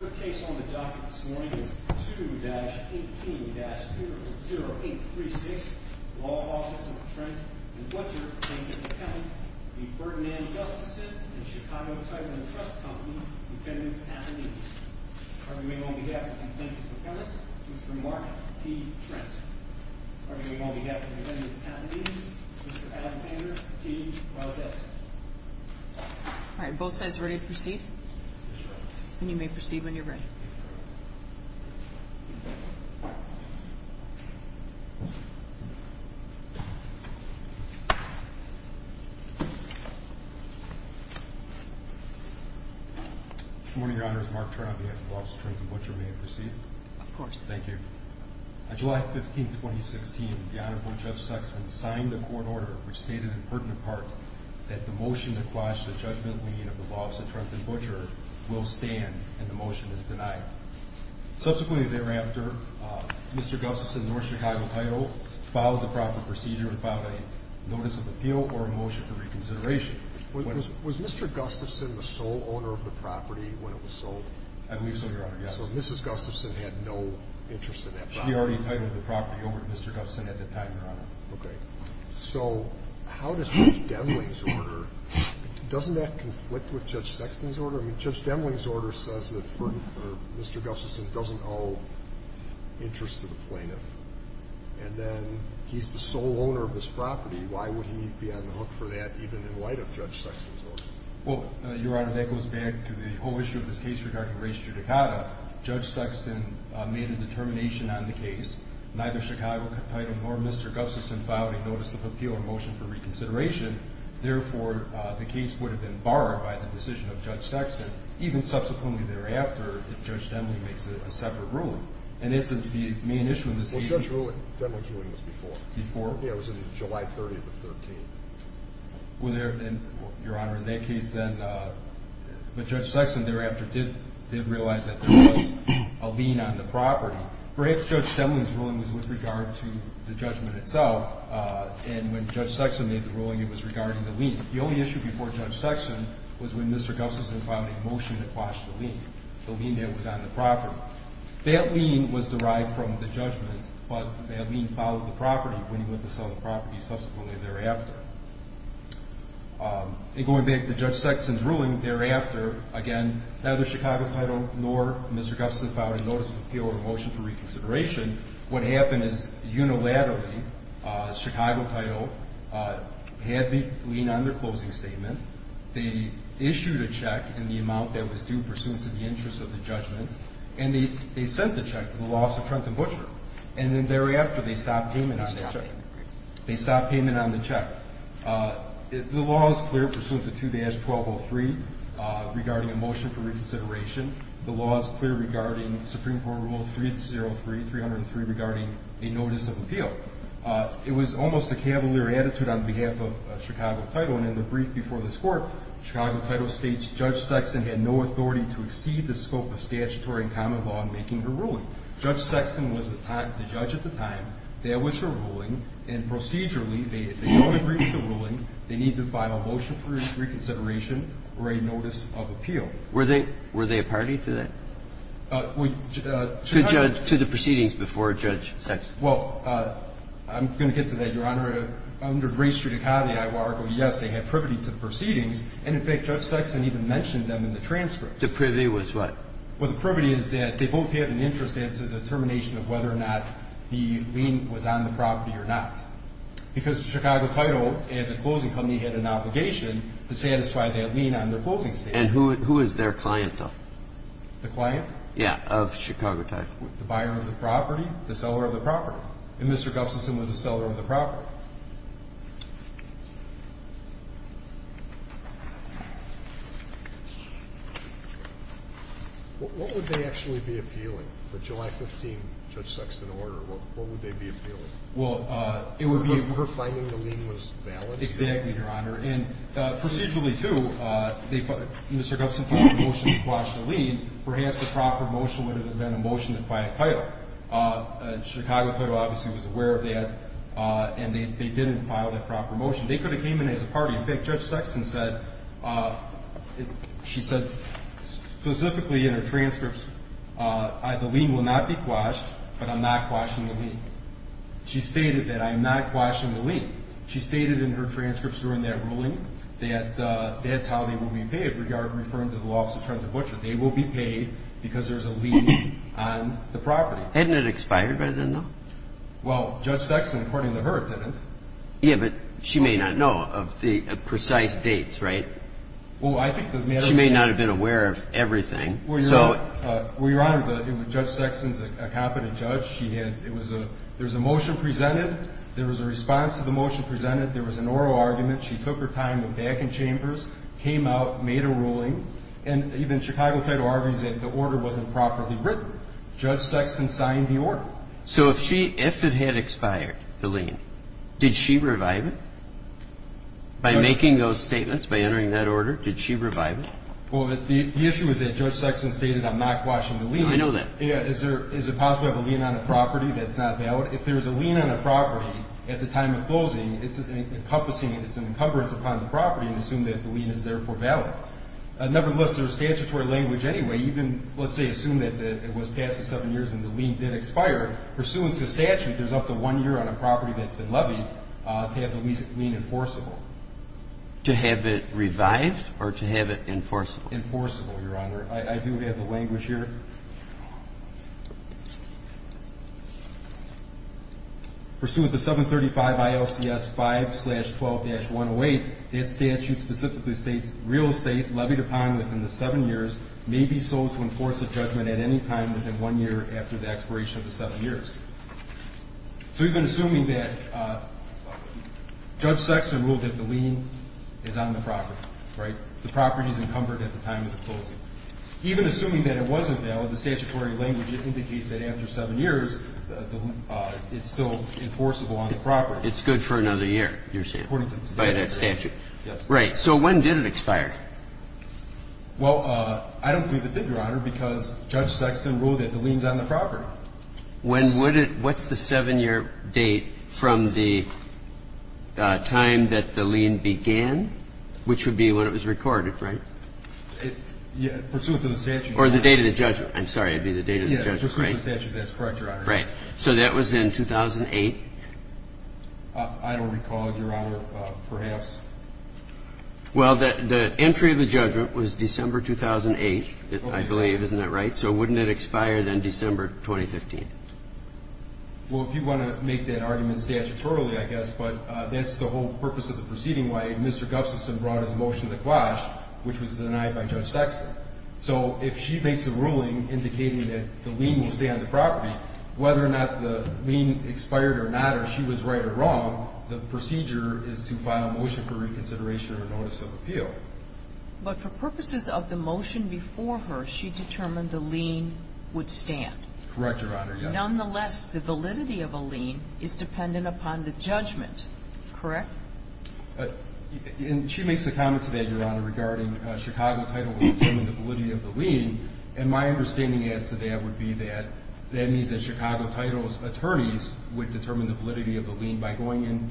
The case on the docket this morning is 2-18-200-0836, Law Office of Trent and Butcher v. Gustafson and Chicago Title & Trust Company, Defendants Appendix. Arguing on behalf of the Defendant's Appellant, Mr. Mark P. Trent. Arguing on behalf of the Defendant's Appendix, Mr. Alexander T. Rosette. Alright, both sides ready to proceed? Yes, Your Honor. Then you may proceed when you're ready. Good morning, Your Honor. This is Mark Trent on behalf of the Law Office of Trent and Butcher. May I proceed? Of course. Thank you. On July 15, 2016, the Honorable Judge Sexton signed a court order which stated in pertinent part that the motion to quash the judgment leaning of the Law Office of Trent and Butcher will stand and the motion is denied. Subsequently thereafter, Mr. Gustafson and North Chicago Title filed the property procedure and filed a notice of appeal or a motion for reconsideration. Was Mr. Gustafson the sole owner of the property when it was sold? I believe so, Your Honor, yes. Well, Mrs. Gustafson had no interest in that property. She already titled the property over to Mr. Gustafson at the time, Your Honor. Okay. So, how does Judge Demling's order, doesn't that conflict with Judge Sexton's order? I mean, Judge Demling's order says that Mr. Gustafson doesn't owe interest to the plaintiff and then he's the sole owner of this property. Why would he be on the hook for that even in light of Judge Sexton's order? Well, Your Honor, that goes back to the whole issue of this case regarding race judicata. Judge Sexton made a determination on the case. Neither Chicago Title nor Mr. Gustafson filed a notice of appeal or a motion for reconsideration. Therefore, the case would have been borrowed by the decision of Judge Sexton, even subsequently thereafter, if Judge Demling makes a separate ruling. And that's the main issue in this case. Well, Judge Demling's ruling was before. Before? Yeah, it was on July 30th of 2013. Your Honor, in that case then, Judge Sexton thereafter did realize that there was a lien on the property. Perhaps Judge Demling's ruling was with regard to the judgment itself, and when Judge Sexton made the ruling, it was regarding the lien. The only issue before Judge Sexton was when Mr. Gustafson filed a motion that quashed the lien. The lien that was on the property. That lien was derived from the judgment, but that lien followed the property when he went to sell the property subsequently thereafter. And going back to Judge Sexton's ruling, thereafter, again, neither Chicago Title nor Mr. Gustafson filed a notice of appeal or a motion for reconsideration. What happened is, unilaterally, Chicago Title had the lien on their closing statement. They issued a check in the amount that was due pursuant to the interest of the judgment, and they sent the check to the Law Office of Trenton Butcher. And then thereafter, they stopped payment on that check. They stopped payment on the check. The law is clear pursuant to 2-1203 regarding a motion for reconsideration. The law is clear regarding Supreme Court Rule 303, 303 regarding a notice of appeal. It was almost a cavalier attitude on behalf of Chicago Title, and in the brief before this court, Chicago Title states, Judge Sexton had no authority to exceed the scope of statutory and common law in making her ruling. And so, Judge Sexton was the judge at the time. There was her ruling. And procedurally, they don't agree with the ruling. They need to file a motion for reconsideration or a notice of appeal. Were they a party to that, to the proceedings before Judge Sexton? Well, I'm going to get to that, Your Honor. Under race judicata, I would argue, yes, they had privity to the proceedings. And, in fact, Judge Sexton even mentioned them in the transcripts. The privity was what? Well, the privity is that they both had an interest as to the determination of whether or not the lien was on the property or not. Because Chicago Title, as a closing company, had an obligation to satisfy that lien on their closing statement. And who is their client, though? The client? Yeah, of Chicago Title. The buyer of the property, the seller of the property. What would they actually be appealing? The July 15 Judge Sexton order, what would they be appealing? Her finding the lien was balanced? Exactly, Your Honor. And procedurally, too, Mr. Gustin filed a motion to quash the lien. Perhaps the proper motion would have been a motion to file a title. Chicago Title obviously was aware of that, and they didn't file that proper motion. They could have came in as a party. Well, I think Judge Sexton said, she said specifically in her transcripts, the lien will not be quashed, but I'm not quashing the lien. She stated that I'm not quashing the lien. She stated in her transcripts during that ruling that that's how they will be paid, referring to the loss of terms of butcher. They will be paid because there's a lien on the property. Hadn't it expired by then, though? Well, Judge Sexton, according to her, didn't. Yeah, but she may not know of the precise dates, right? She may not have been aware of everything. Well, Your Honor, Judge Sexton is a competent judge. There was a motion presented. There was a response to the motion presented. There was an oral argument. She took her time, went back in chambers, came out, made a ruling, and even Chicago Title argues that the order wasn't properly written. Judge Sexton signed the order. So if she, if it had expired, the lien, did she revive it? By making those statements, by entering that order, did she revive it? Well, the issue is that Judge Sexton stated I'm not quashing the lien. I know that. Is there, is it possible to have a lien on a property that's not valid? If there's a lien on a property at the time of closing, it's encompassing, it's an encumbrance upon the property to assume that the lien is therefore valid. Nevertheless, there's statutory language anyway. Even, let's say, assume that it was past the seven years and the lien did expire. Pursuant to statute, there's up to one year on a property that's been levied to have the lien enforceable. To have it revived or to have it enforceable? Enforceable, Your Honor. I do have the language here. Pursuant to 735 ILCS 5-12-108, that statute specifically states, Real estate levied upon within the seven years may be sold to enforce a judgment at any time within one year after the expiration of the seven years. So we've been assuming that Judge Sexton ruled that the lien is on the property, right? The property is encumbered at the time of the closing. Even assuming that it wasn't valid, the statutory language indicates that after seven years, it's still enforceable on the property. It's good for another year, you're saying? According to the statute. By that statute. Yes. Right. So when did it expire? Well, I don't believe it did, Your Honor, because Judge Sexton ruled that the lien is on the property. When would it? What's the seven-year date from the time that the lien began, which would be when it was recorded, right? Pursuant to the statute. Or the date of the judgment. I'm sorry. It would be the date of the judgment. Pursuant to the statute. That's correct, Your Honor. Right. So that was in 2008? I don't recall, Your Honor. Perhaps. Well, the entry of the judgment was December 2008, I believe. Isn't that right? So wouldn't it expire then December 2015? Well, if you want to make that argument statutorily, I guess, but that's the whole purpose of the proceeding. Why Mr. Gustafson brought his motion to the quash, which was denied by Judge Sexton. So if she makes a ruling indicating that the lien will stay on the property, whether or not the lien expired or not, or she was right or wrong, the procedure is to file a motion for reconsideration or notice of appeal. But for purposes of the motion before her, she determined the lien would stand. Correct, Your Honor, yes. Nonetheless, the validity of a lien is dependent upon the judgment, correct? And she makes a comment to that, Your Honor, regarding Chicago title would determine the validity of the lien, and my understanding as to that would be that that means that Chicago title's attorneys would determine the validity of the lien by going in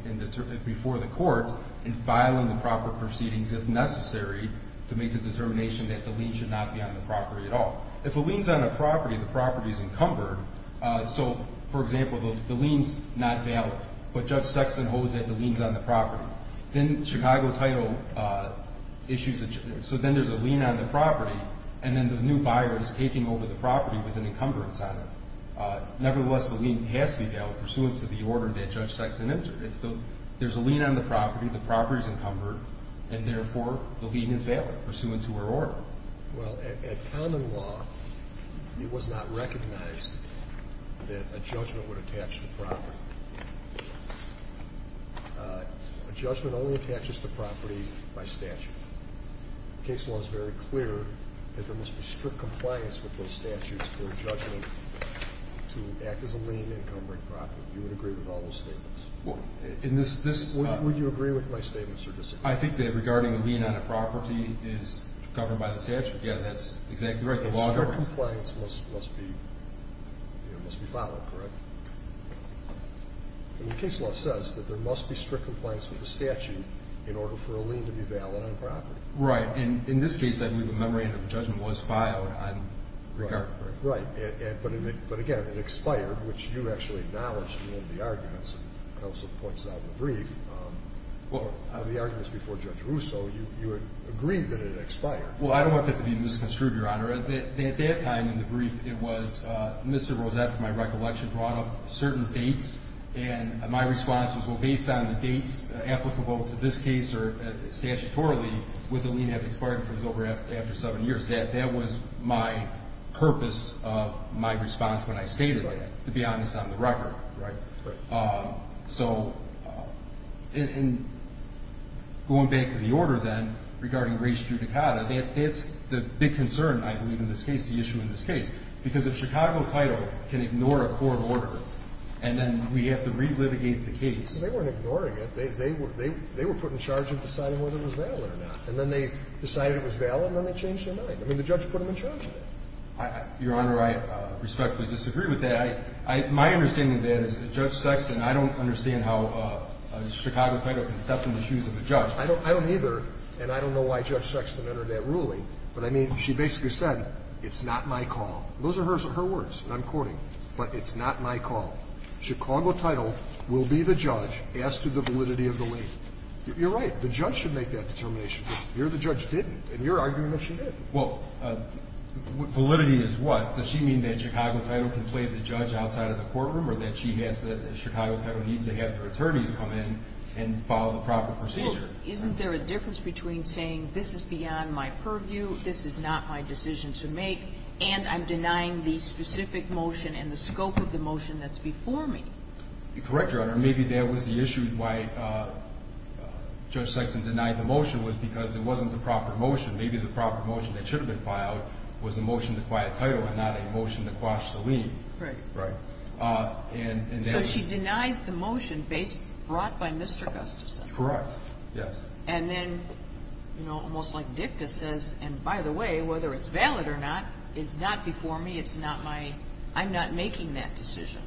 before the court and filing the proper proceedings, if necessary, to make the determination that the lien should not be on the property at all. If a lien is on the property, the property is encumbered. So, for example, the lien is not valid, but Judge Sexton holds that the lien is on the property. Then Chicago title issues a judgment. So then there's a lien on the property, and then the new buyer is taking over the property with an encumbrance on it. Nevertheless, the lien has to be valid pursuant to the order that Judge Sexton entered. There's a lien on the property, the property's encumbered, and therefore the lien is valid pursuant to her order. Well, at common law, it was not recognized that a judgment would attach to the property. A judgment only attaches to property by statute. The case law is very clear that there must be strict compliance with those statutes for a judgment to act as a lien encumbering property. Do you agree with all those statements? Would you agree with my statements or disagree? I think that regarding a lien on a property is covered by the statute. Yeah, that's exactly right. The law governs. And strict compliance must be followed, correct? The case law says that there must be strict compliance with the statute in order for a judgment to attach to a property. Right. And in this case, I believe a memorandum of judgment was filed. Right. But, again, it expired, which you actually acknowledged in one of the arguments and also points out in the brief. On the arguments before Judge Russo, you agreed that it expired. Well, I don't want that to be misconstrued, Your Honor. At that time in the brief, it was Mr. Roseff, in my recollection, brought up certain dates. And my response was, well, based on the dates applicable to this case or statutorily, would the lien have expired if it was over after seven years? That was my purpose of my response when I stated that, to be honest, on the record. Right. So in going back to the order, then, regarding race judicata, that's the big concern, I believe, in this case, the issue in this case. Because a Chicago title can ignore a court order, and then we have to relitigate the case. They weren't ignoring it. They were put in charge of deciding whether it was valid or not. And then they decided it was valid, and then they changed their mind. I mean, the judge put them in charge of it. Your Honor, I respectfully disagree with that. My understanding of that is that Judge Sexton, I don't understand how a Chicago title can step in the shoes of a judge. I don't either. And I don't know why Judge Sexton entered that ruling. But I mean, she basically said, it's not my call. Those are her words. And I'm quoting. But it's not my call. Chicago title will be the judge as to the validity of the lien. You're right. The judge should make that determination. You're the judge didn't. And you're arguing that she did. Well, validity is what? Does she mean that Chicago title can play the judge outside of the courtroom or that she has the Chicago title needs to have their attorneys come in and follow the proper procedure? Well, isn't there a difference between saying this is beyond my purview, this is not my decision to make, and I'm denying the specific motion and the scope of the motion that's before me? Correct, Your Honor. Maybe that was the issue why Judge Sexton denied the motion was because it wasn't the proper motion. Maybe the proper motion that should have been filed was a motion to acquire title and not a motion to quash the lien. Right. Right. So she denies the motion brought by Mr. Gustafson. Correct. Yes. And then, you know, almost like dicta says, and by the way, whether it's valid or not is not before me, it's not my, I'm not making that decision.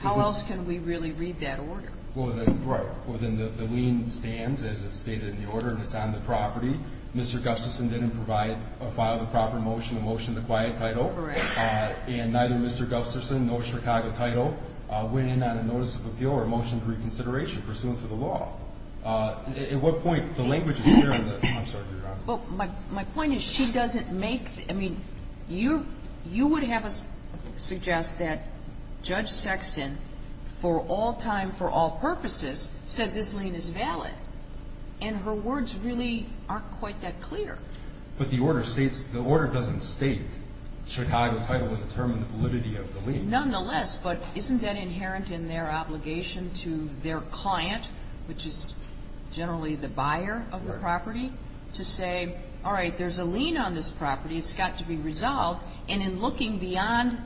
How else can we really read that order? Right. Well, then the lien stands, as it's stated in the order, and it's on the property. Mr. Gustafson didn't provide a file of proper motion, a motion to acquire title. Correct. And neither Mr. Gustafson nor Chicago title went in on a notice of appeal or a motion to reconsideration pursuant to the law. At what point, the language is clear in the, I'm sorry, Your Honor. Well, my point is she doesn't make, I mean, you would have us suggest that Judge Sexton, for all time, for all purposes, said this lien is valid. And her words really aren't quite that clear. But the order states, the order doesn't state Chicago title would determine the validity of the lien. Nonetheless, but isn't that inherent in their obligation to their client, which is generally the buyer of the property, to say, all right, there's a lien on this property. It's got to be resolved. And in looking beyond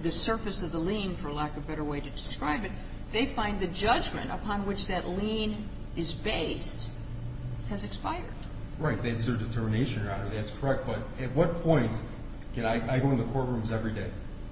the surface of the lien, for lack of a better way to describe it, they find the judgment upon which that lien is based has expired. Right. That's their determination, Your Honor. That's correct. But at what point can I, I go into courtrooms every day.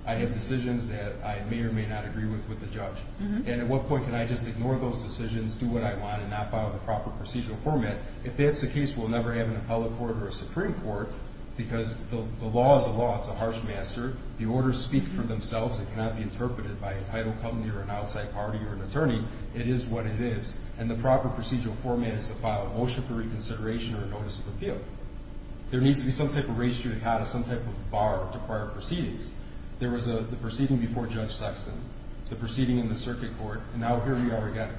I have decisions that I may or may not agree with with the judge. And at what point can I just ignore those decisions, do what I want and not follow the proper procedural format? If that's the case, we'll never have an appellate court or a Supreme Court, because the law is a law. It's a harsh master. The orders speak for themselves. It cannot be interpreted by a title company or an outside party or an attorney. It is what it is. And the proper procedural format is to file a motion for reconsideration or a notice of appeal. There needs to be some type of res judicata, some type of bar to require proceedings. There was the proceeding before Judge Sexton, the proceeding in the circuit court, and now here we are again.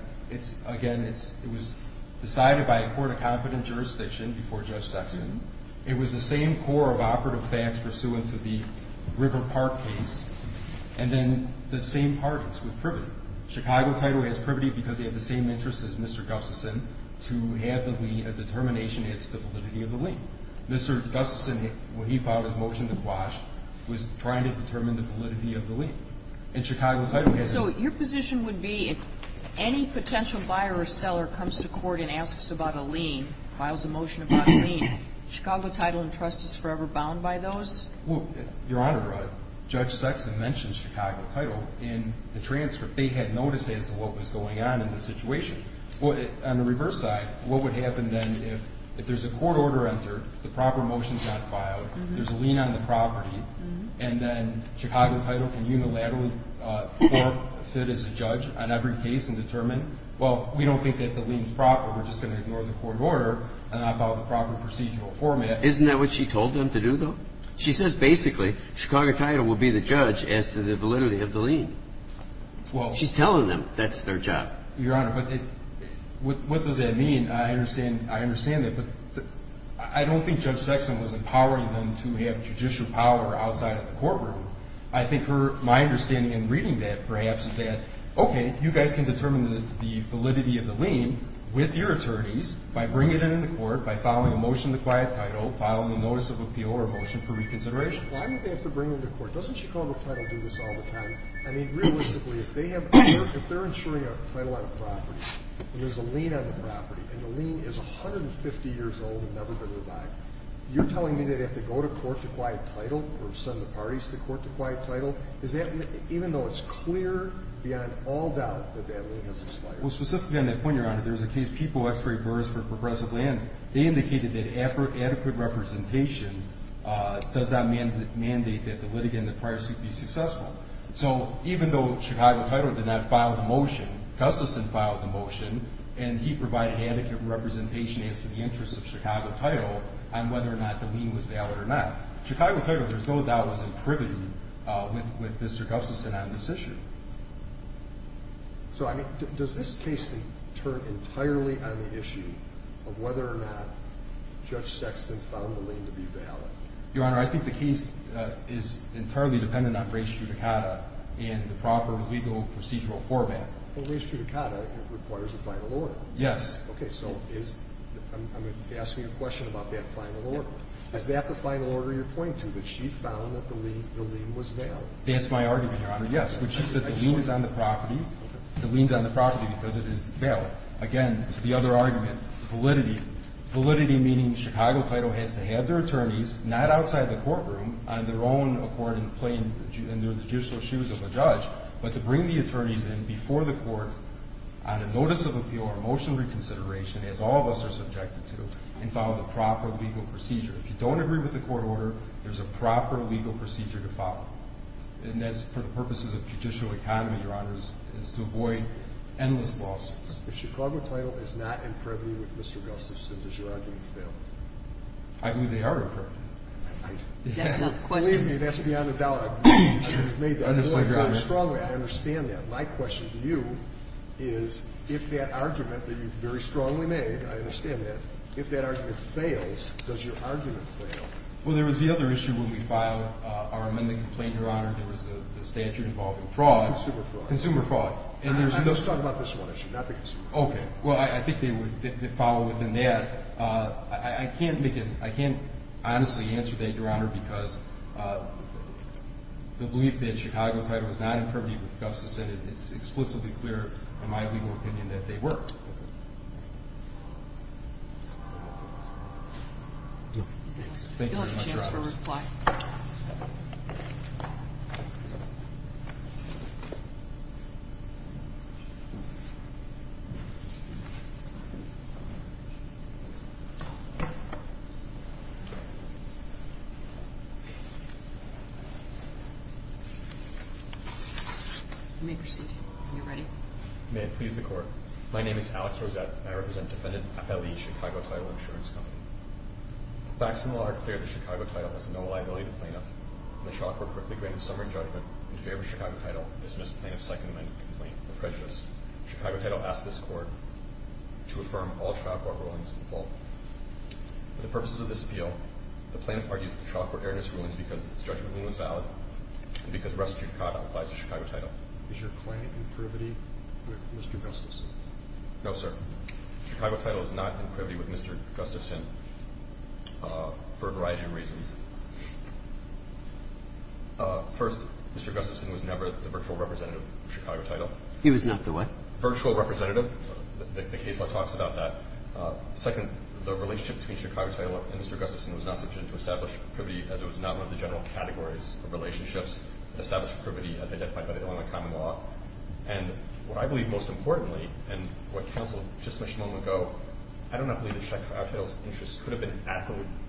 Again, it was decided by a court of confident jurisdiction before Judge Sexton. It was the same core of operative facts pursuant to the River Park case, and then the same parties with privity. Chicago Title has privity because they have the same interests as Mr. Gustafson to have the lien, a determination as to the validity of the lien. Mr. Gustafson, when he filed his motion to quash, was trying to determine the validity of the lien. And Chicago Title has it. So your position would be if any potential buyer or seller comes to court and asks about a lien, files a motion about a lien, Chicago Title and Trust is forever bound by those? Well, Your Honor, Judge Sexton mentioned Chicago Title in the transfer. They had notice as to what was going on in the situation. On the reverse side, what would happen then if there's a court order entered and the proper motion is not filed, there's a lien on the property, and then Chicago Title can unilaterally court-fit as a judge on every case and determine, well, we don't think that the lien is proper. We're just going to ignore the court order and not file the proper procedural format. Isn't that what she told them to do, though? She says basically Chicago Title will be the judge as to the validity of the lien. She's telling them that's their job. Your Honor, what does that mean? I understand that, but I don't think Judge Sexton was empowering them to have judicial power outside of the courtroom. I think my understanding in reading that perhaps is that, okay, you guys can determine the validity of the lien with your attorneys by bringing it into court, by filing a motion to quiet title, filing a notice of appeal or a motion for reconsideration. Why would they have to bring it into court? Doesn't Chicago Title do this all the time? I mean, realistically, if they're insuring a title on a property and there's a lien on the property and the lien is 150 years old and never been revived, you're telling me that they have to go to court to quiet title or send the parties to court to quiet title, even though it's clear beyond all doubt that that lien has expired? Well, specifically on that point, Your Honor, there's a case, People X-Ray Burrs for Progressive Land. They indicated that adequate representation does not mandate that the litigant in the prior suit be successful. So even though Chicago Title did not file the motion, Gustafson filed the motion and he provided adequate representation as to the interest of Chicago Title on whether or not the lien was valid or not. Chicago Title, there's no doubt, was in privity with Mr. Gustafson on this issue. So, I mean, does this case turn entirely on the issue of whether or not Judge Sexton found the lien to be valid? Your Honor, I think the case is entirely dependent on race judicata and the proper legal procedural format. Well, race judicata requires a final order. Yes. Okay, so I'm asking you a question about that final order. Is that the final order you're pointing to, that she found that the lien was valid? That's my argument, Your Honor, yes. When she said the lien is on the property, the lien is on the property because it is valid. Again, to the other argument, validity. Validity meaning Chicago Title has to have their attorneys, not outside the courtroom, on their own accord in plain judicial shoes of a judge, but to bring the attorneys in before the court on a notice of appeal or a motion of reconsideration, as all of us are subjected to, and follow the proper legal procedure. If you don't agree with the court order, there's a proper legal procedure to follow. And that's for the purposes of judicial economy, Your Honor, is to avoid endless lawsuits. If Chicago Title is not in privity with Mr. Gustafson, does your argument fail? I believe they are in privity. That's not the question. That's beyond a doubt. You've made that point very strongly. I understand that. My question to you is if that argument that you've very strongly made, I understand that, if that argument fails, does your argument fail? Well, there was the other issue when we filed our amendment complaint, Your Honor. There was the statute involving fraud. Consumer fraud. Consumer fraud. Let's talk about this one issue, not the consumer fraud. Okay. Well, I think they follow within that. I can't honestly answer that, Your Honor, because the belief that Chicago Title is not in privity with Gustafson, it's explicitly clear in my legal opinion that they were. Thank you very much, Your Honor. You'll have a chance to reply. Thank you. You may proceed. Are you ready? May it please the Court. My name is Alex Rosette. I represent Defendant Ali, Chicago Title Insurance Company. Facts in the law are clear that Chicago Title has no liability to plaintiff. The shopper quickly granted summary judgment in favor of Chicago Title and dismissed plaintiff's second amendment complaint, a prejudice. Chicago Title asked this Court to affirm all shopper rulings in full. For the purposes of this appeal, the plaintiff argues that the shopper erroneous rulings because its judgment was valid and because restricted conduct applies to Chicago Title. Is your claim in privity with Mr. Gustafson? No, sir. Chicago Title is not in privity with Mr. Gustafson for a variety of reasons. First, Mr. Gustafson was never the virtual representative of Chicago Title. He was not the what? Virtual representative. The case law talks about that. Second, the relationship between Chicago Title and Mr. Gustafson was not sufficient to establish privity as it was not one of the general categories of relationships to establish privity as identified by the Illinois common law. And what I believe most importantly, and what counsel just mentioned a moment ago, I do not believe that Chicago Title's interests could have been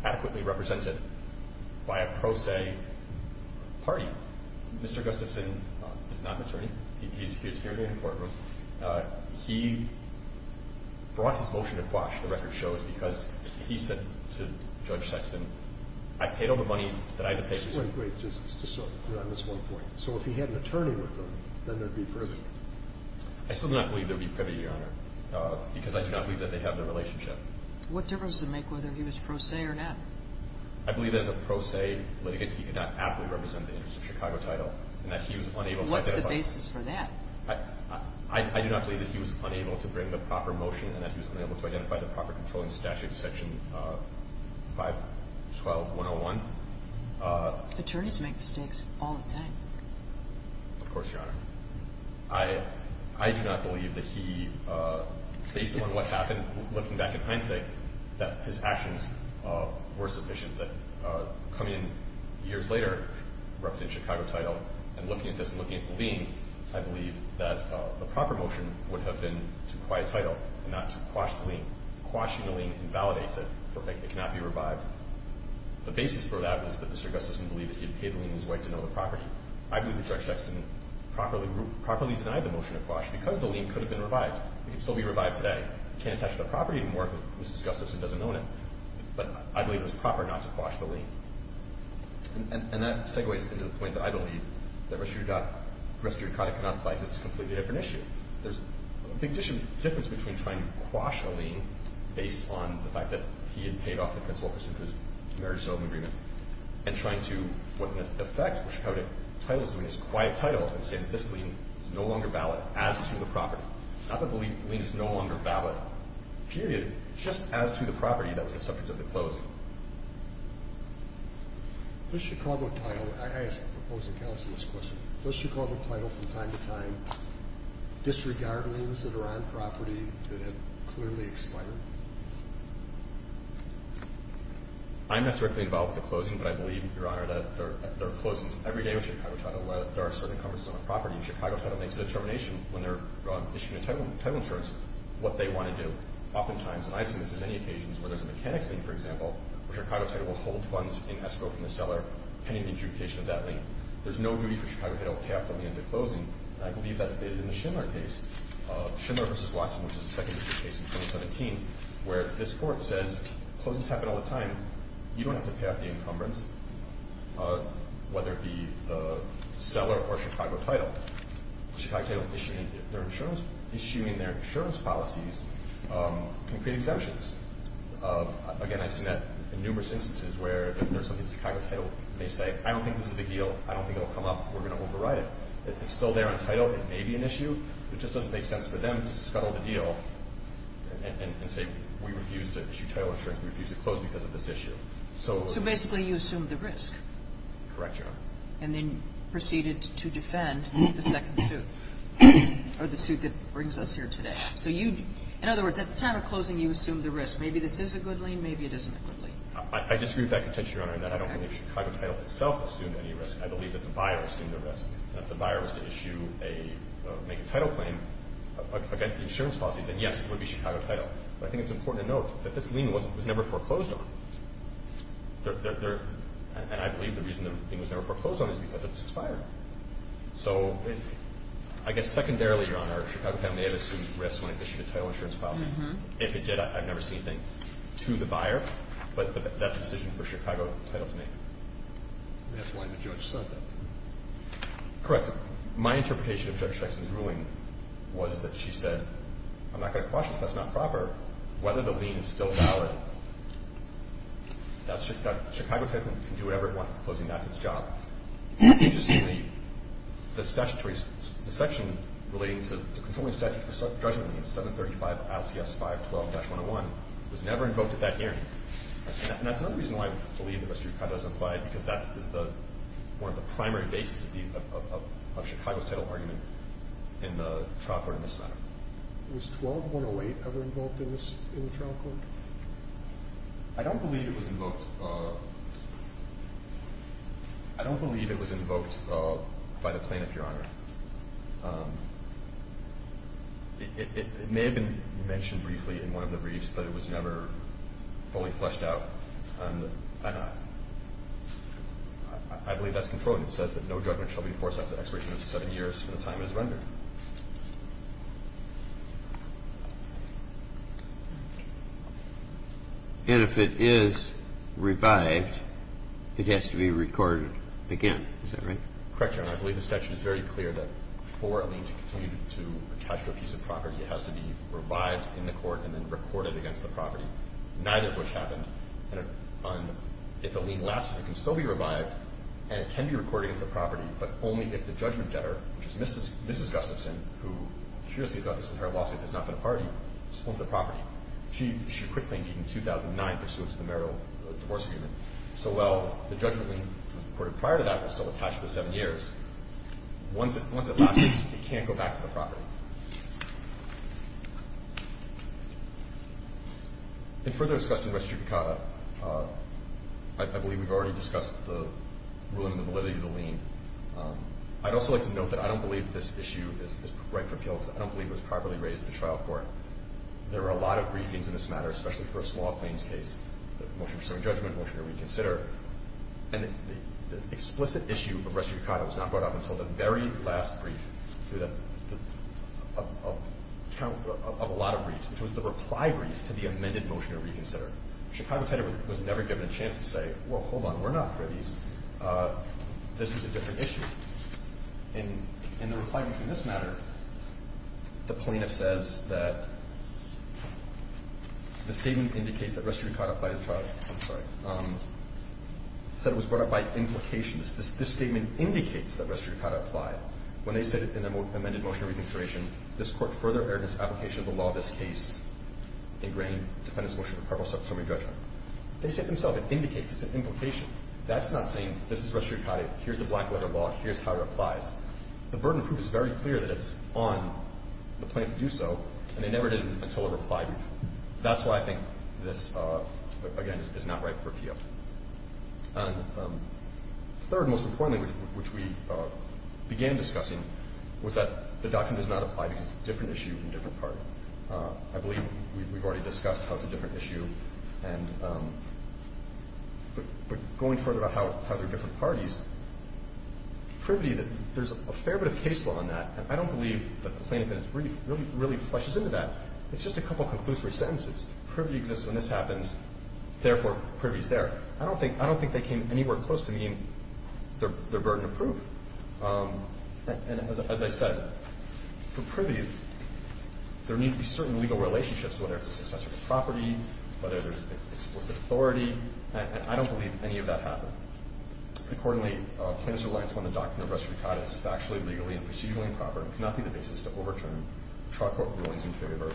adequately represented by a pro se party. Mr. Gustafson is not an attorney. He's here in the courtroom. He brought his motion to quash, the record shows, because he said to Judge Sexton, I paid all the money that I had to pay. Wait, wait, just on this one point. So if he had an attorney with him, then there would be privity? I still do not believe there would be privity, Your Honor, because I do not believe that they have the relationship. What difference does it make whether he was pro se or not? I believe that as a pro se litigant, he could not adequately represent the interests of Chicago Title and that he was unable to identify. What's the basis for that? I do not believe that he was unable to bring the proper motion and that he was unable to identify the proper controlling statute, Section 512-101. Attorneys make mistakes all the time. Of course, Your Honor. I do not believe that he, based on what happened looking back at Heinstick, that his actions were sufficient, that coming in years later, representing Chicago Title, and looking at this and looking at the lien, I believe that the proper motion would have been to acquire a title and not to quash the lien. Quashing the lien invalidates it. It cannot be revived. The basis for that was that Mr. Gustafson believed that he had paid the lien in his way to know the property. I believe that Judge Sexton properly denied the motion to quash because the lien could have been revived. It could still be revived today. It can't attach to the property anymore if Mrs. Gustafson doesn't own it. But I believe it was proper not to quash the lien. And that segues into the point that I believe that res judicata cannot apply because it's a completely different issue. There's a big difference between trying to quash a lien, based on the fact that he had paid off the principal pursuant to his marriage settlement agreement, and trying to, what in effect Chicago Title is doing is quiet title and say that this lien is no longer valid as to the property. Not the belief the lien is no longer valid, period, just as to the property that was the subject of the closing. Does Chicago Title, I ask the proposing counsel this question, does Chicago Title from time to time disregard liens that are on property that have clearly expired? I'm not directly involved with the closing, but I believe, Your Honor, that there are closings every day with Chicago Title. There are certain covers on the property, and Chicago Title makes a determination when they're issuing a title insurance what they want to do. Oftentimes, and I've seen this on many occasions, where there's a mechanics lien, for example, where Chicago Title will hold funds in escrow from the seller pending the adjudication of that lien. There's no duty for Chicago Title to pay off the lien at the closing, and I believe that's stated in the Schindler case, Schindler v. Watson, which is the second case in 2017, where this court says, closings happen all the time, you don't have to pay off the encumbrance, whether it be the seller or Chicago Title. Chicago Title issuing their insurance policies can create exemptions. Again, I've seen that in numerous instances where there's something that Chicago Title may say, I don't think this is the deal. I don't think it will come up. We're going to override it. It's still there on title. It may be an issue. It just doesn't make sense for them to scuttle the deal and say, we refuse to issue title insurance. We refuse to close because of this issue. So basically, you assume the risk. Correct, Your Honor. And then proceeded to defend the second suit, or the suit that brings us here today. So you, in other words, at the time of closing, you assumed the risk. Maybe this is a good lien. Maybe it isn't a good lien. I disagree with that contention, Your Honor, in that I don't believe Chicago Title itself assumed any risk. I believe that the buyer assumed the risk. And if the buyer was to issue a, make a title claim against the insurance policy, then, yes, it would be Chicago Title. But I think it's important to note that this lien was never foreclosed on. And I believe the reason the lien was never foreclosed on is because it's expired. So I guess secondarily, Your Honor, Chicago Title may have assumed risk when it issued a title insurance policy. If it did, I've never seen anything to the buyer. But that's a decision for Chicago Title to make. That's why the judge said that. Correct. My interpretation of Judge Sexton's ruling was that she said, I'm not going to quash it if that's not proper. Whether the lien is still valid, that Chicago Title can do whatever it wants at the closing. That's its job. Interestingly, the statutory section relating to the controlling statute for judgment in 735 LCS 512-101 was never invoked at that hearing. And that's another reason why I believe the rest of your comment is implied, because that is one of the primary bases of Chicago's title argument in the trial court in this matter. Was 12-108 ever invoked in the trial court? I don't believe it was invoked. I don't believe it was invoked by the plaintiff, Your Honor. It may have been mentioned briefly in one of the briefs, but it was never fully fleshed out. I believe that's controlling. It says that no judgment shall be enforced after expiration of seven years from the time it is rendered. And if it is revived, it has to be recorded again, is that right? Correct, Your Honor. I believe the statute is very clear that for a lien to continue to attach to a piece of property, it has to be revived in the court and then recorded against the property. Neither of which happened. And if a lien lapses, it can still be revived, and it can be recorded against the property, but only if the judgment debtor, which is Mrs. Gustafson, who seriously thought this entire lawsuit had not been a party, owns the property. She quickly, indeed, in 2009, pursuant to the marital divorce agreement. So while the judgment lien recorded prior to that was still attached for seven years, once it lapses, it can't go back to the property. In further discussing restitutacata, I believe we've already discussed the ruling and the validity of the lien. I'd also like to note that I don't believe this issue is right for appeal because I don't believe it was properly raised at the trial court. There were a lot of briefings in this matter, especially for a small claims case, motion to pursue a judgment, motion to reconsider. And the explicit issue of restitutacata was not brought up until the very last brief of a lot of briefs, which was the reply brief to the amended motion to reconsider. Chicago Titer was never given a chance to say, well, hold on, we're not for these. This is a different issue. In the reply between this matter, the plaintiff says that the statement indicates that restitutacata applied at trial. I'm sorry. Said it was brought up by implications. This statement indicates that restitutacata applied. When they said in the amended motion of reconsideration, this Court further erred in its application of the law of this case, ingrained Defendant's motion for purpose of summary judgment. They said themselves it indicates, it's an implication. That's not saying this is restitutacata, here's the black letter law, here's how it applies. The burden of proof is very clear that it's on the plaintiff to do so, and they never did it until a reply brief. That's why I think this, again, is not right for appeal. And third, most importantly, which we began discussing, was that the doctrine does not apply because it's a different issue from a different party. I believe we've already discussed how it's a different issue, but going further about how they're different parties, Privity, there's a fair bit of case law on that, and I don't believe that the plaintiff in its brief really fleshes into that. It's just a couple of conclusory sentences. Privy exists when this happens, therefore Privy's there. I don't think they came anywhere close to meaning they're burden of proof. And as I said, for Privy, there need to be certain legal relationships, whether it's a successful property, whether there's explicit authority, and I don't believe any of that happened. Accordingly, plaintiff's reliance on the doctrine of restitutacata is factually, legally, and procedurally improper and cannot be the basis to overturn trial court rulings in favor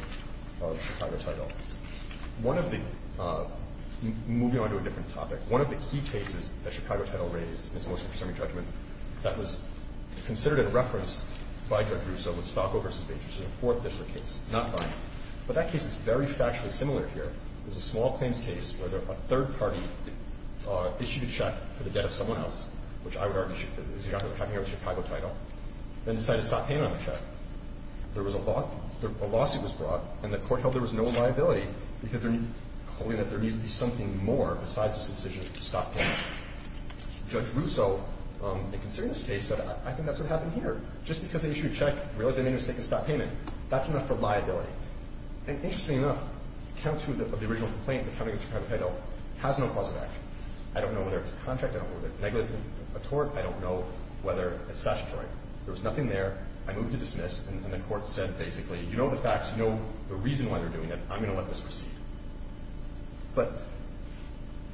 of Chicago Title. One of the – moving on to a different topic – one of the key cases that Chicago Title raised in its most concerning judgment that was considered a reference by Judge Russo was Falco v. Bates, which is a Fourth District case, not mine. But that case is very factually similar here. It was a small claims case where a third party issued a check for the debt of someone else, which I would argue is having to do with Chicago Title, then decided to stop payment on the check. There was a law – a lawsuit was brought, and the court held there was no liability because there – holding that there needed to be something more besides this decision to stop payment. Judge Russo, in considering this case, said, I think that's what happened here. Just because they issued a check, realized they made a mistake in stop payment, that's enough for liability. And interestingly enough, count two of the original complaint, the county against Chicago Title, has no cause of action. I don't know whether it's a contract. I don't know whether it's negligence or a tort. I don't know whether it's statutory. There was nothing there. I moved to dismiss. And the court said, basically, you know the facts. You know the reason why they're doing it. I'm going to let this proceed. But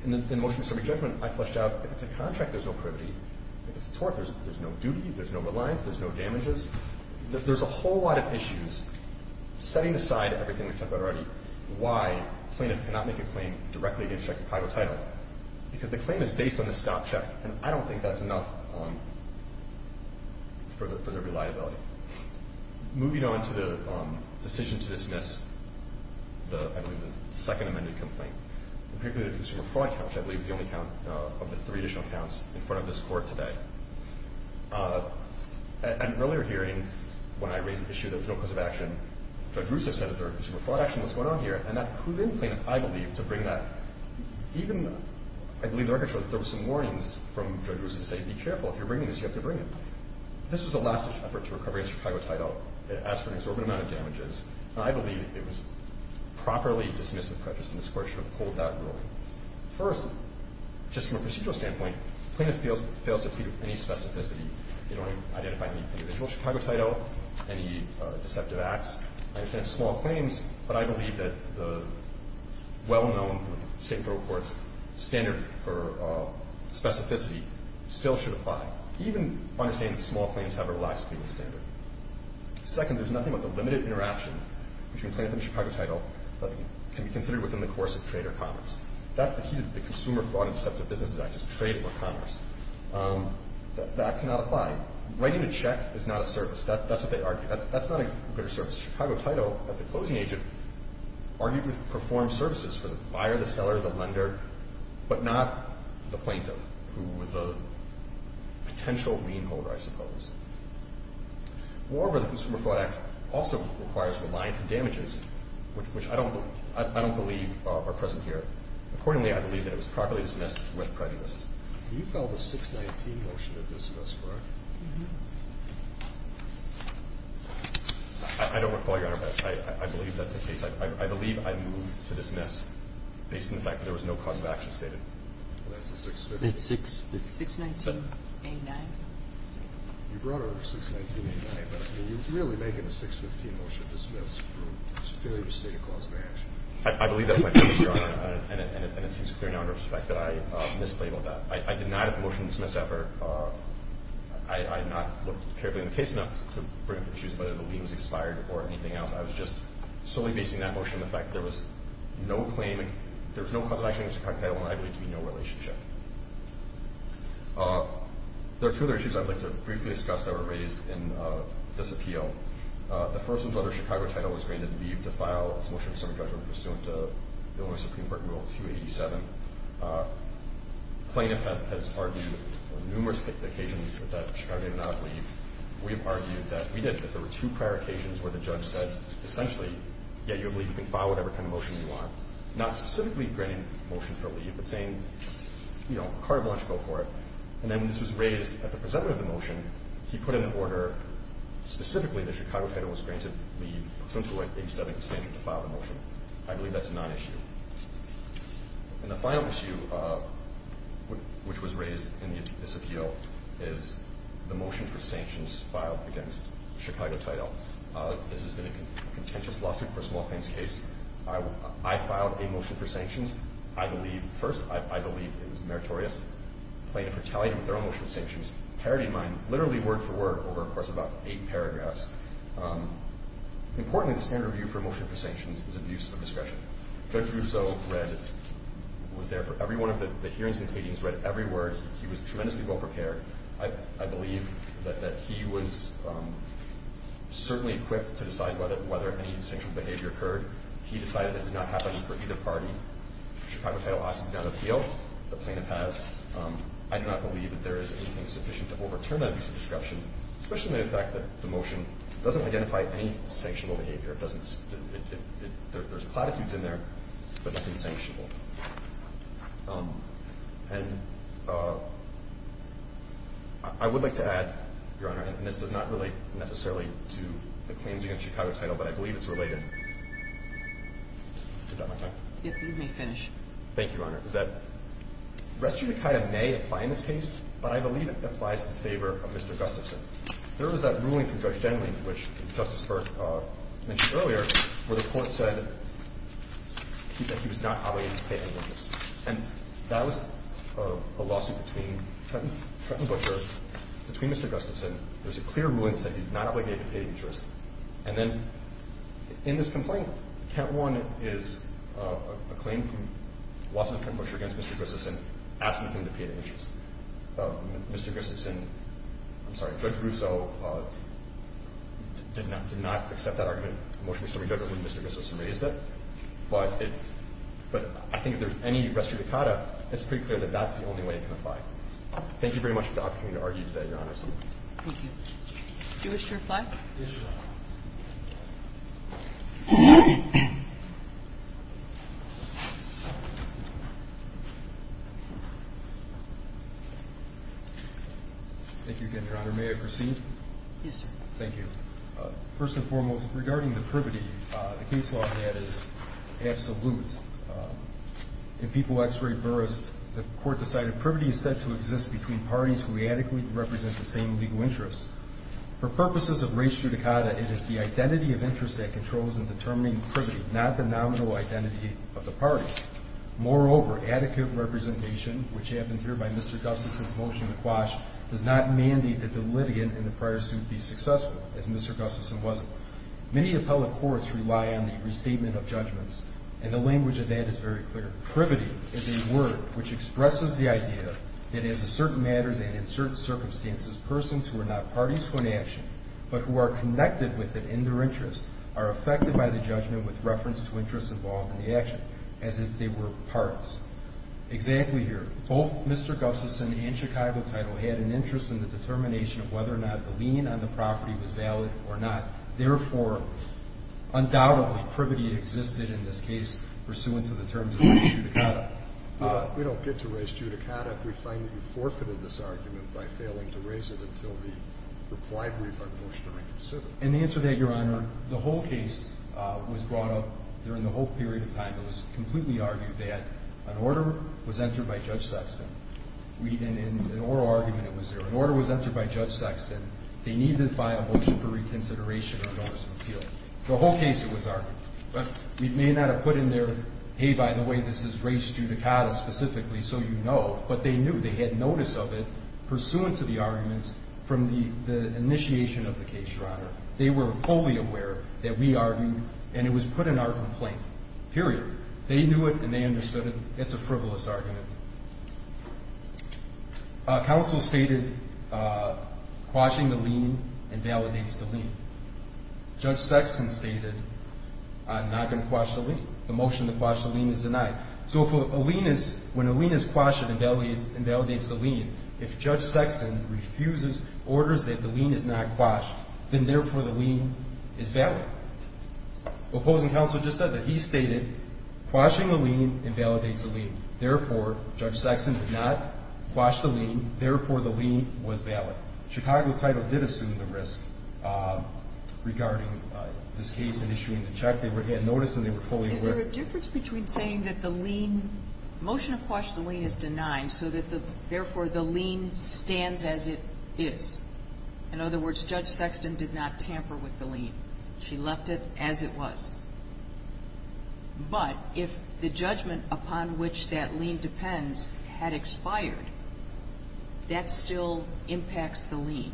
in the motion of subject judgment, I fleshed out, if it's a contract, there's no privity. If it's a tort, there's no duty. There's no reliance. There's no damages. There's a whole lot of issues setting aside everything we've talked about already, why plaintiff cannot make a claim directly against Chicago Title, because the claim is based on the stop check. And I don't think that's enough for the reliability. Moving on to the decision to dismiss the, I believe, the second amended complaint, particularly the consumer fraud count, which I believe is the only count of the three additional counts in front of this Court today. At an earlier hearing, when I raised the issue that there was no cause of action, Judge Russo said, is there a consumer fraud action? What's going on here? And that proven plaintiff, I believe, to bring that. Even, I believe, the record shows that there were some warnings from Judge Russo to say, be careful. If you're bringing this, you have to bring it. This was a last-ditch effort to recover against Chicago Title. It asked for an exorbitant amount of damages. And I believe it was properly dismissed that prejudice in this Court should have pulled that ruling. First, just from a procedural standpoint, plaintiff fails to plead with any specificity. They don't identify any individual Chicago Title, any deceptive acts. I understand small claims, but I believe that the well-known State Bureau of Courts standard for specificity still should apply, even understanding that small claims have a relaxed pleading standard. Second, there's nothing about the limited interaction between plaintiff and Chicago Title that can be considered within the course of trade or commerce. That's the key to the Consumer Fraud and Deceptive Businesses Act, is trade or commerce. That cannot apply. Writing a check is not a service. That's what they argue. That's not a good service. Chicago Title, as a closing agent, arguably performs services for the buyer, the seller, the lender, but not the plaintiff, who is a potential lien holder, I suppose. Moreover, the Consumer Fraud Act also requires reliance on damages, which I don't believe are present here. Accordingly, I believe that it was properly dismissed with prejudice. You filed a 619 motion to dismiss, correct? I don't recall, Your Honor, but I believe that's the case. I believe I moved to dismiss based on the fact that there was no cause of action stated. Well, that's a 615. It's 615. 619A9. You brought over 619A9, but you're really making a 615 motion to dismiss for failure to state a cause of action. I believe that, Your Honor, and it seems clear now in retrospect that I mislabeled that. I did not have a motion to dismiss effort. I have not looked carefully in the case enough to bring up issues of whether the lien was expired or anything else. I was just solely basing that motion on the fact that there was no claim. There was no cause of action in the Chicago Title, and I believe to be no relationship. There are two other issues I'd like to briefly discuss that were raised in this appeal. The first was whether Chicago Title was granted leave to file its motion of non-issue. Again, this is the same thing as the Convert Rule 287. Plaintiff has argued on numerous occasions that Chicago did not leave. We have argued that we did, that there were two prior occasions where the judge said, essentially, yeah, you can file whatever kind of motion you want, not specifically granting motion for leave, but saying, you know, a card voluntary bill for it. And then this was raised at the present of the motion. He put in the order specifically that Chicago Title was granted leave, essentially 87% to file the motion. I believe that's a non-issue. And the final issue which was raised in this appeal is the motion for sanctions filed against Chicago Title. This has been a contentious lawsuit for a small claims case. I filed a motion for sanctions. I believe, first, I believe it was meritorious. Plaintiff retaliated with their own motion for sanctions, parity in mind, literally word for word over, of course, about eight paragraphs. Important in the standard review for a motion for sanctions is abuse of discretion. Judge Russo read, was there for every one of the hearings and pleadings, read every word. He was tremendously well-prepared. I believe that he was certainly equipped to decide whether any sanctioned behavior occurred. He decided that did not happen for either party. Chicago Title asked him to not appeal. The plaintiff has. I do not believe that there is anything sufficient to overturn that abuse of discretion. It doesn't identify any sanctionable behavior. It doesn't, there's platitudes in there, but nothing sanctionable. And I would like to add, Your Honor, and this does not relate necessarily to the claims against Chicago Title, but I believe it's related. Is that my time? You may finish. Thank you, Your Honor. The rest of it kind of may apply in this case, but I believe it applies in favor of Mr. Gustafson. There was that ruling from Judge Denling, which Justice Burke mentioned earlier, where the court said that he was not obligated to pay any interest. And that was a lawsuit between Trenton, Trenton Butcher, between Mr. Gustafson. There was a clear ruling that said he's not obligated to pay any interest. And then in this complaint, count one is a claim from Watson Trenton Butcher against Mr. Gustafson asking him to pay the interest. Mr. Gustafson, I'm sorry, Judge Russo did not accept that argument emotionally so we don't know who Mr. Gustafson raised it. But I think if there's any res judicata, it's pretty clear that that's the only way it can apply. Thank you very much for the opportunity to argue today, Your Honor. Do you wish to reply? Yes, Your Honor. Thank you again, Your Honor. May I proceed? Yes, sir. Thank you. First and foremost, regarding the privity, the case law in that is absolute. In People x Ray Burris, the court decided privity is said to exist between parties who adequately represent the same legal interests. For purposes of res judicata, it is the identity of interest that controls in determining privity, not the nominal identity of the parties. Moreover, adequate representation, which happens here by Mr. Gustafson's motion to quash, does not mandate that the litigant in the prior suit be successful, as Mr. Gustafson wasn't. Many appellate courts rely on the restatement of judgments, and the language of that is very clear. Privity is a word which expresses the idea that in certain matters and in certain circumstances, persons who are not parties to an action but who are connected with it in their interest are affected by the judgment with reference to interest involved in the action, as if they were parts. Exactly here, both Mr. Gustafson and Chicago Title had an interest in the determination of whether or not the lien on the property was valid or not. Therefore, undoubtedly, privity existed in this case pursuant to the terms of res judicata. We don't get to res judicata if we find that you forfeited this argument by failing to raise it until the reply brief on motion to reconsider. In answer to that, Your Honor, the whole case was brought up during the whole period of time. It was completely argued that an order was entered by Judge Sexton. In an oral argument, it was there. An order was entered by Judge Sexton. They need to file a motion for reconsideration or notice of appeal. The whole case, it was argued. We may not have put in there, hey, by the way, this is res judicata specifically, so you know, but they knew. They had notice of it pursuant to the arguments from the initiation of the case, Your Honor. They were fully aware that we argued and it was put in our complaint, period. They knew it and they understood it. It's a frivolous argument. Counsel stated quashing the lien invalidates the lien. Judge Sexton stated I'm not going to quash the lien. The motion to quash the lien is denied. So when a lien is quashed, it invalidates the lien. If Judge Sexton refuses, orders that the lien is not quashed, then therefore the lien is valid. Opposing counsel just said that he stated quashing the lien invalidates the lien. Therefore, Judge Sexton did not quash the lien. Therefore, the lien was valid. Chicago title did assume the risk regarding this case in issuing the check. They had notice and they were fully aware. Is there a difference between saying that the lien, motion to quash the lien is valid and the lien stands as it is? In other words, Judge Sexton did not tamper with the lien. She left it as it was. But if the judgment upon which that lien depends had expired, that still impacts the lien,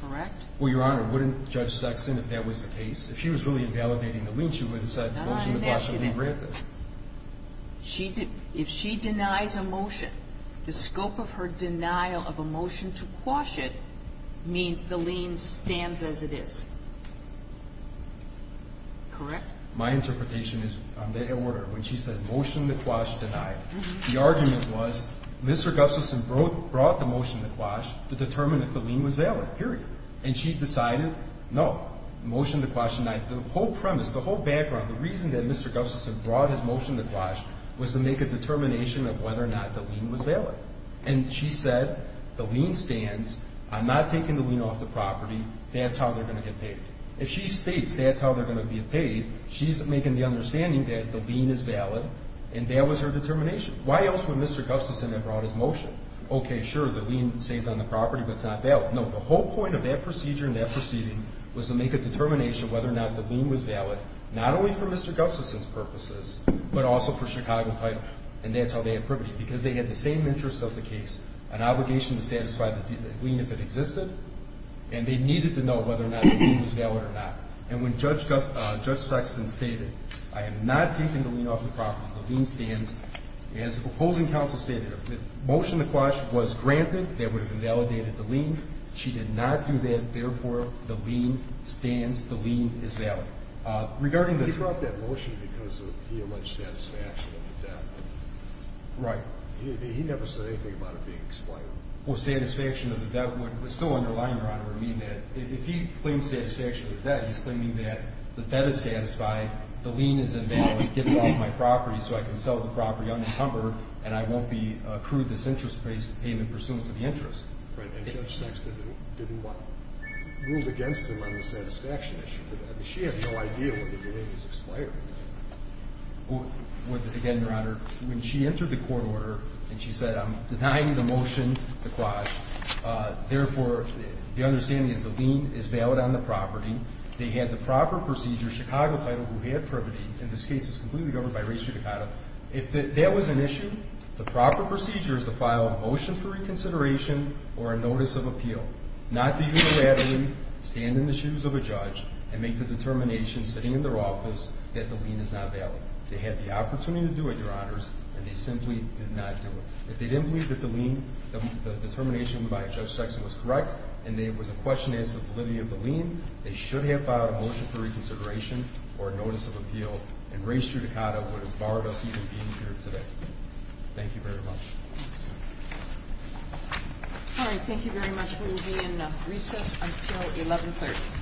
correct? Well, Your Honor, wouldn't Judge Sexton, if that was the case, if she was really invalidating the lien, she would have said the motion to quash the lien. She did. If she denies a motion, the scope of her denial of a motion to quash it means the lien stands as it is. Correct? My interpretation is on that order. When she said motion to quash denied, the argument was Mr. Gubson brought the motion to quash to determine if the lien was valid, period. And she decided no, motion to quash denied. The whole premise, the whole background, the reason that Mr. Gubson brought his motion to quash was to make a determination of whether or not the lien was valid. And she said the lien stands. I'm not taking the lien off the property. That's how they're going to get paid. If she states that's how they're going to get paid, she's making the understanding that the lien is valid, and that was her determination. Why else would Mr. Gubson have brought his motion? Okay, sure, the lien stays on the property, but it's not valid. No, the whole point of that procedure and that proceeding was to make a determination of whether or not the lien was valid, not only for Mr. Gubson's purposes, but also for Chicago Title, and that's how they had privity, because they had the same interest of the case, an obligation to satisfy the lien if it existed, and they needed to know whether or not the lien was valid or not. And when Judge Sexton stated, I am not taking the lien off the property, the lien stands, as the proposing counsel stated, if the motion to quash was granted, that would have invalidated the lien. She did not do that. Therefore, the lien stands, the lien is valid. He brought that motion because he alleged satisfaction of the debt. Right. He never said anything about it being exploited. Well, satisfaction of the debt would still underline, Your Honor, what I mean by that. If he claims satisfaction of the debt, he's claiming that the debt is satisfied, the lien is invalid, get it off my property so I can sell the property unencumbered, and I won't be accrued this interest to pay him in pursuance of the interest. Right. And Judge Sexton didn't rule against him on the satisfaction issue. I mean, she had no idea what the lien was exploiting. Well, again, Your Honor, when she entered the court order and she said, I'm denying the motion to quash, therefore, the understanding is the lien is valid on the property. They had the proper procedure, Chicago title, who had privity. In this case, it's completely governed by res judicata. If that was an issue, the proper procedure is to file a motion for reconsideration or a notice of appeal, not to unilaterally stand in the shoes of a judge and make the determination sitting in their office that the lien is not valid. They had the opportunity to do it, Your Honors, and they simply did not do it. If they didn't believe that the lien, the determination by Judge Sexton was correct and there was a question as to the validity of the lien, they should have filed a motion for reconsideration or a notice of appeal and res judicata would have barred us even being here today. Thank you very much. All right. Thank you very much. We will be in recess until 1130.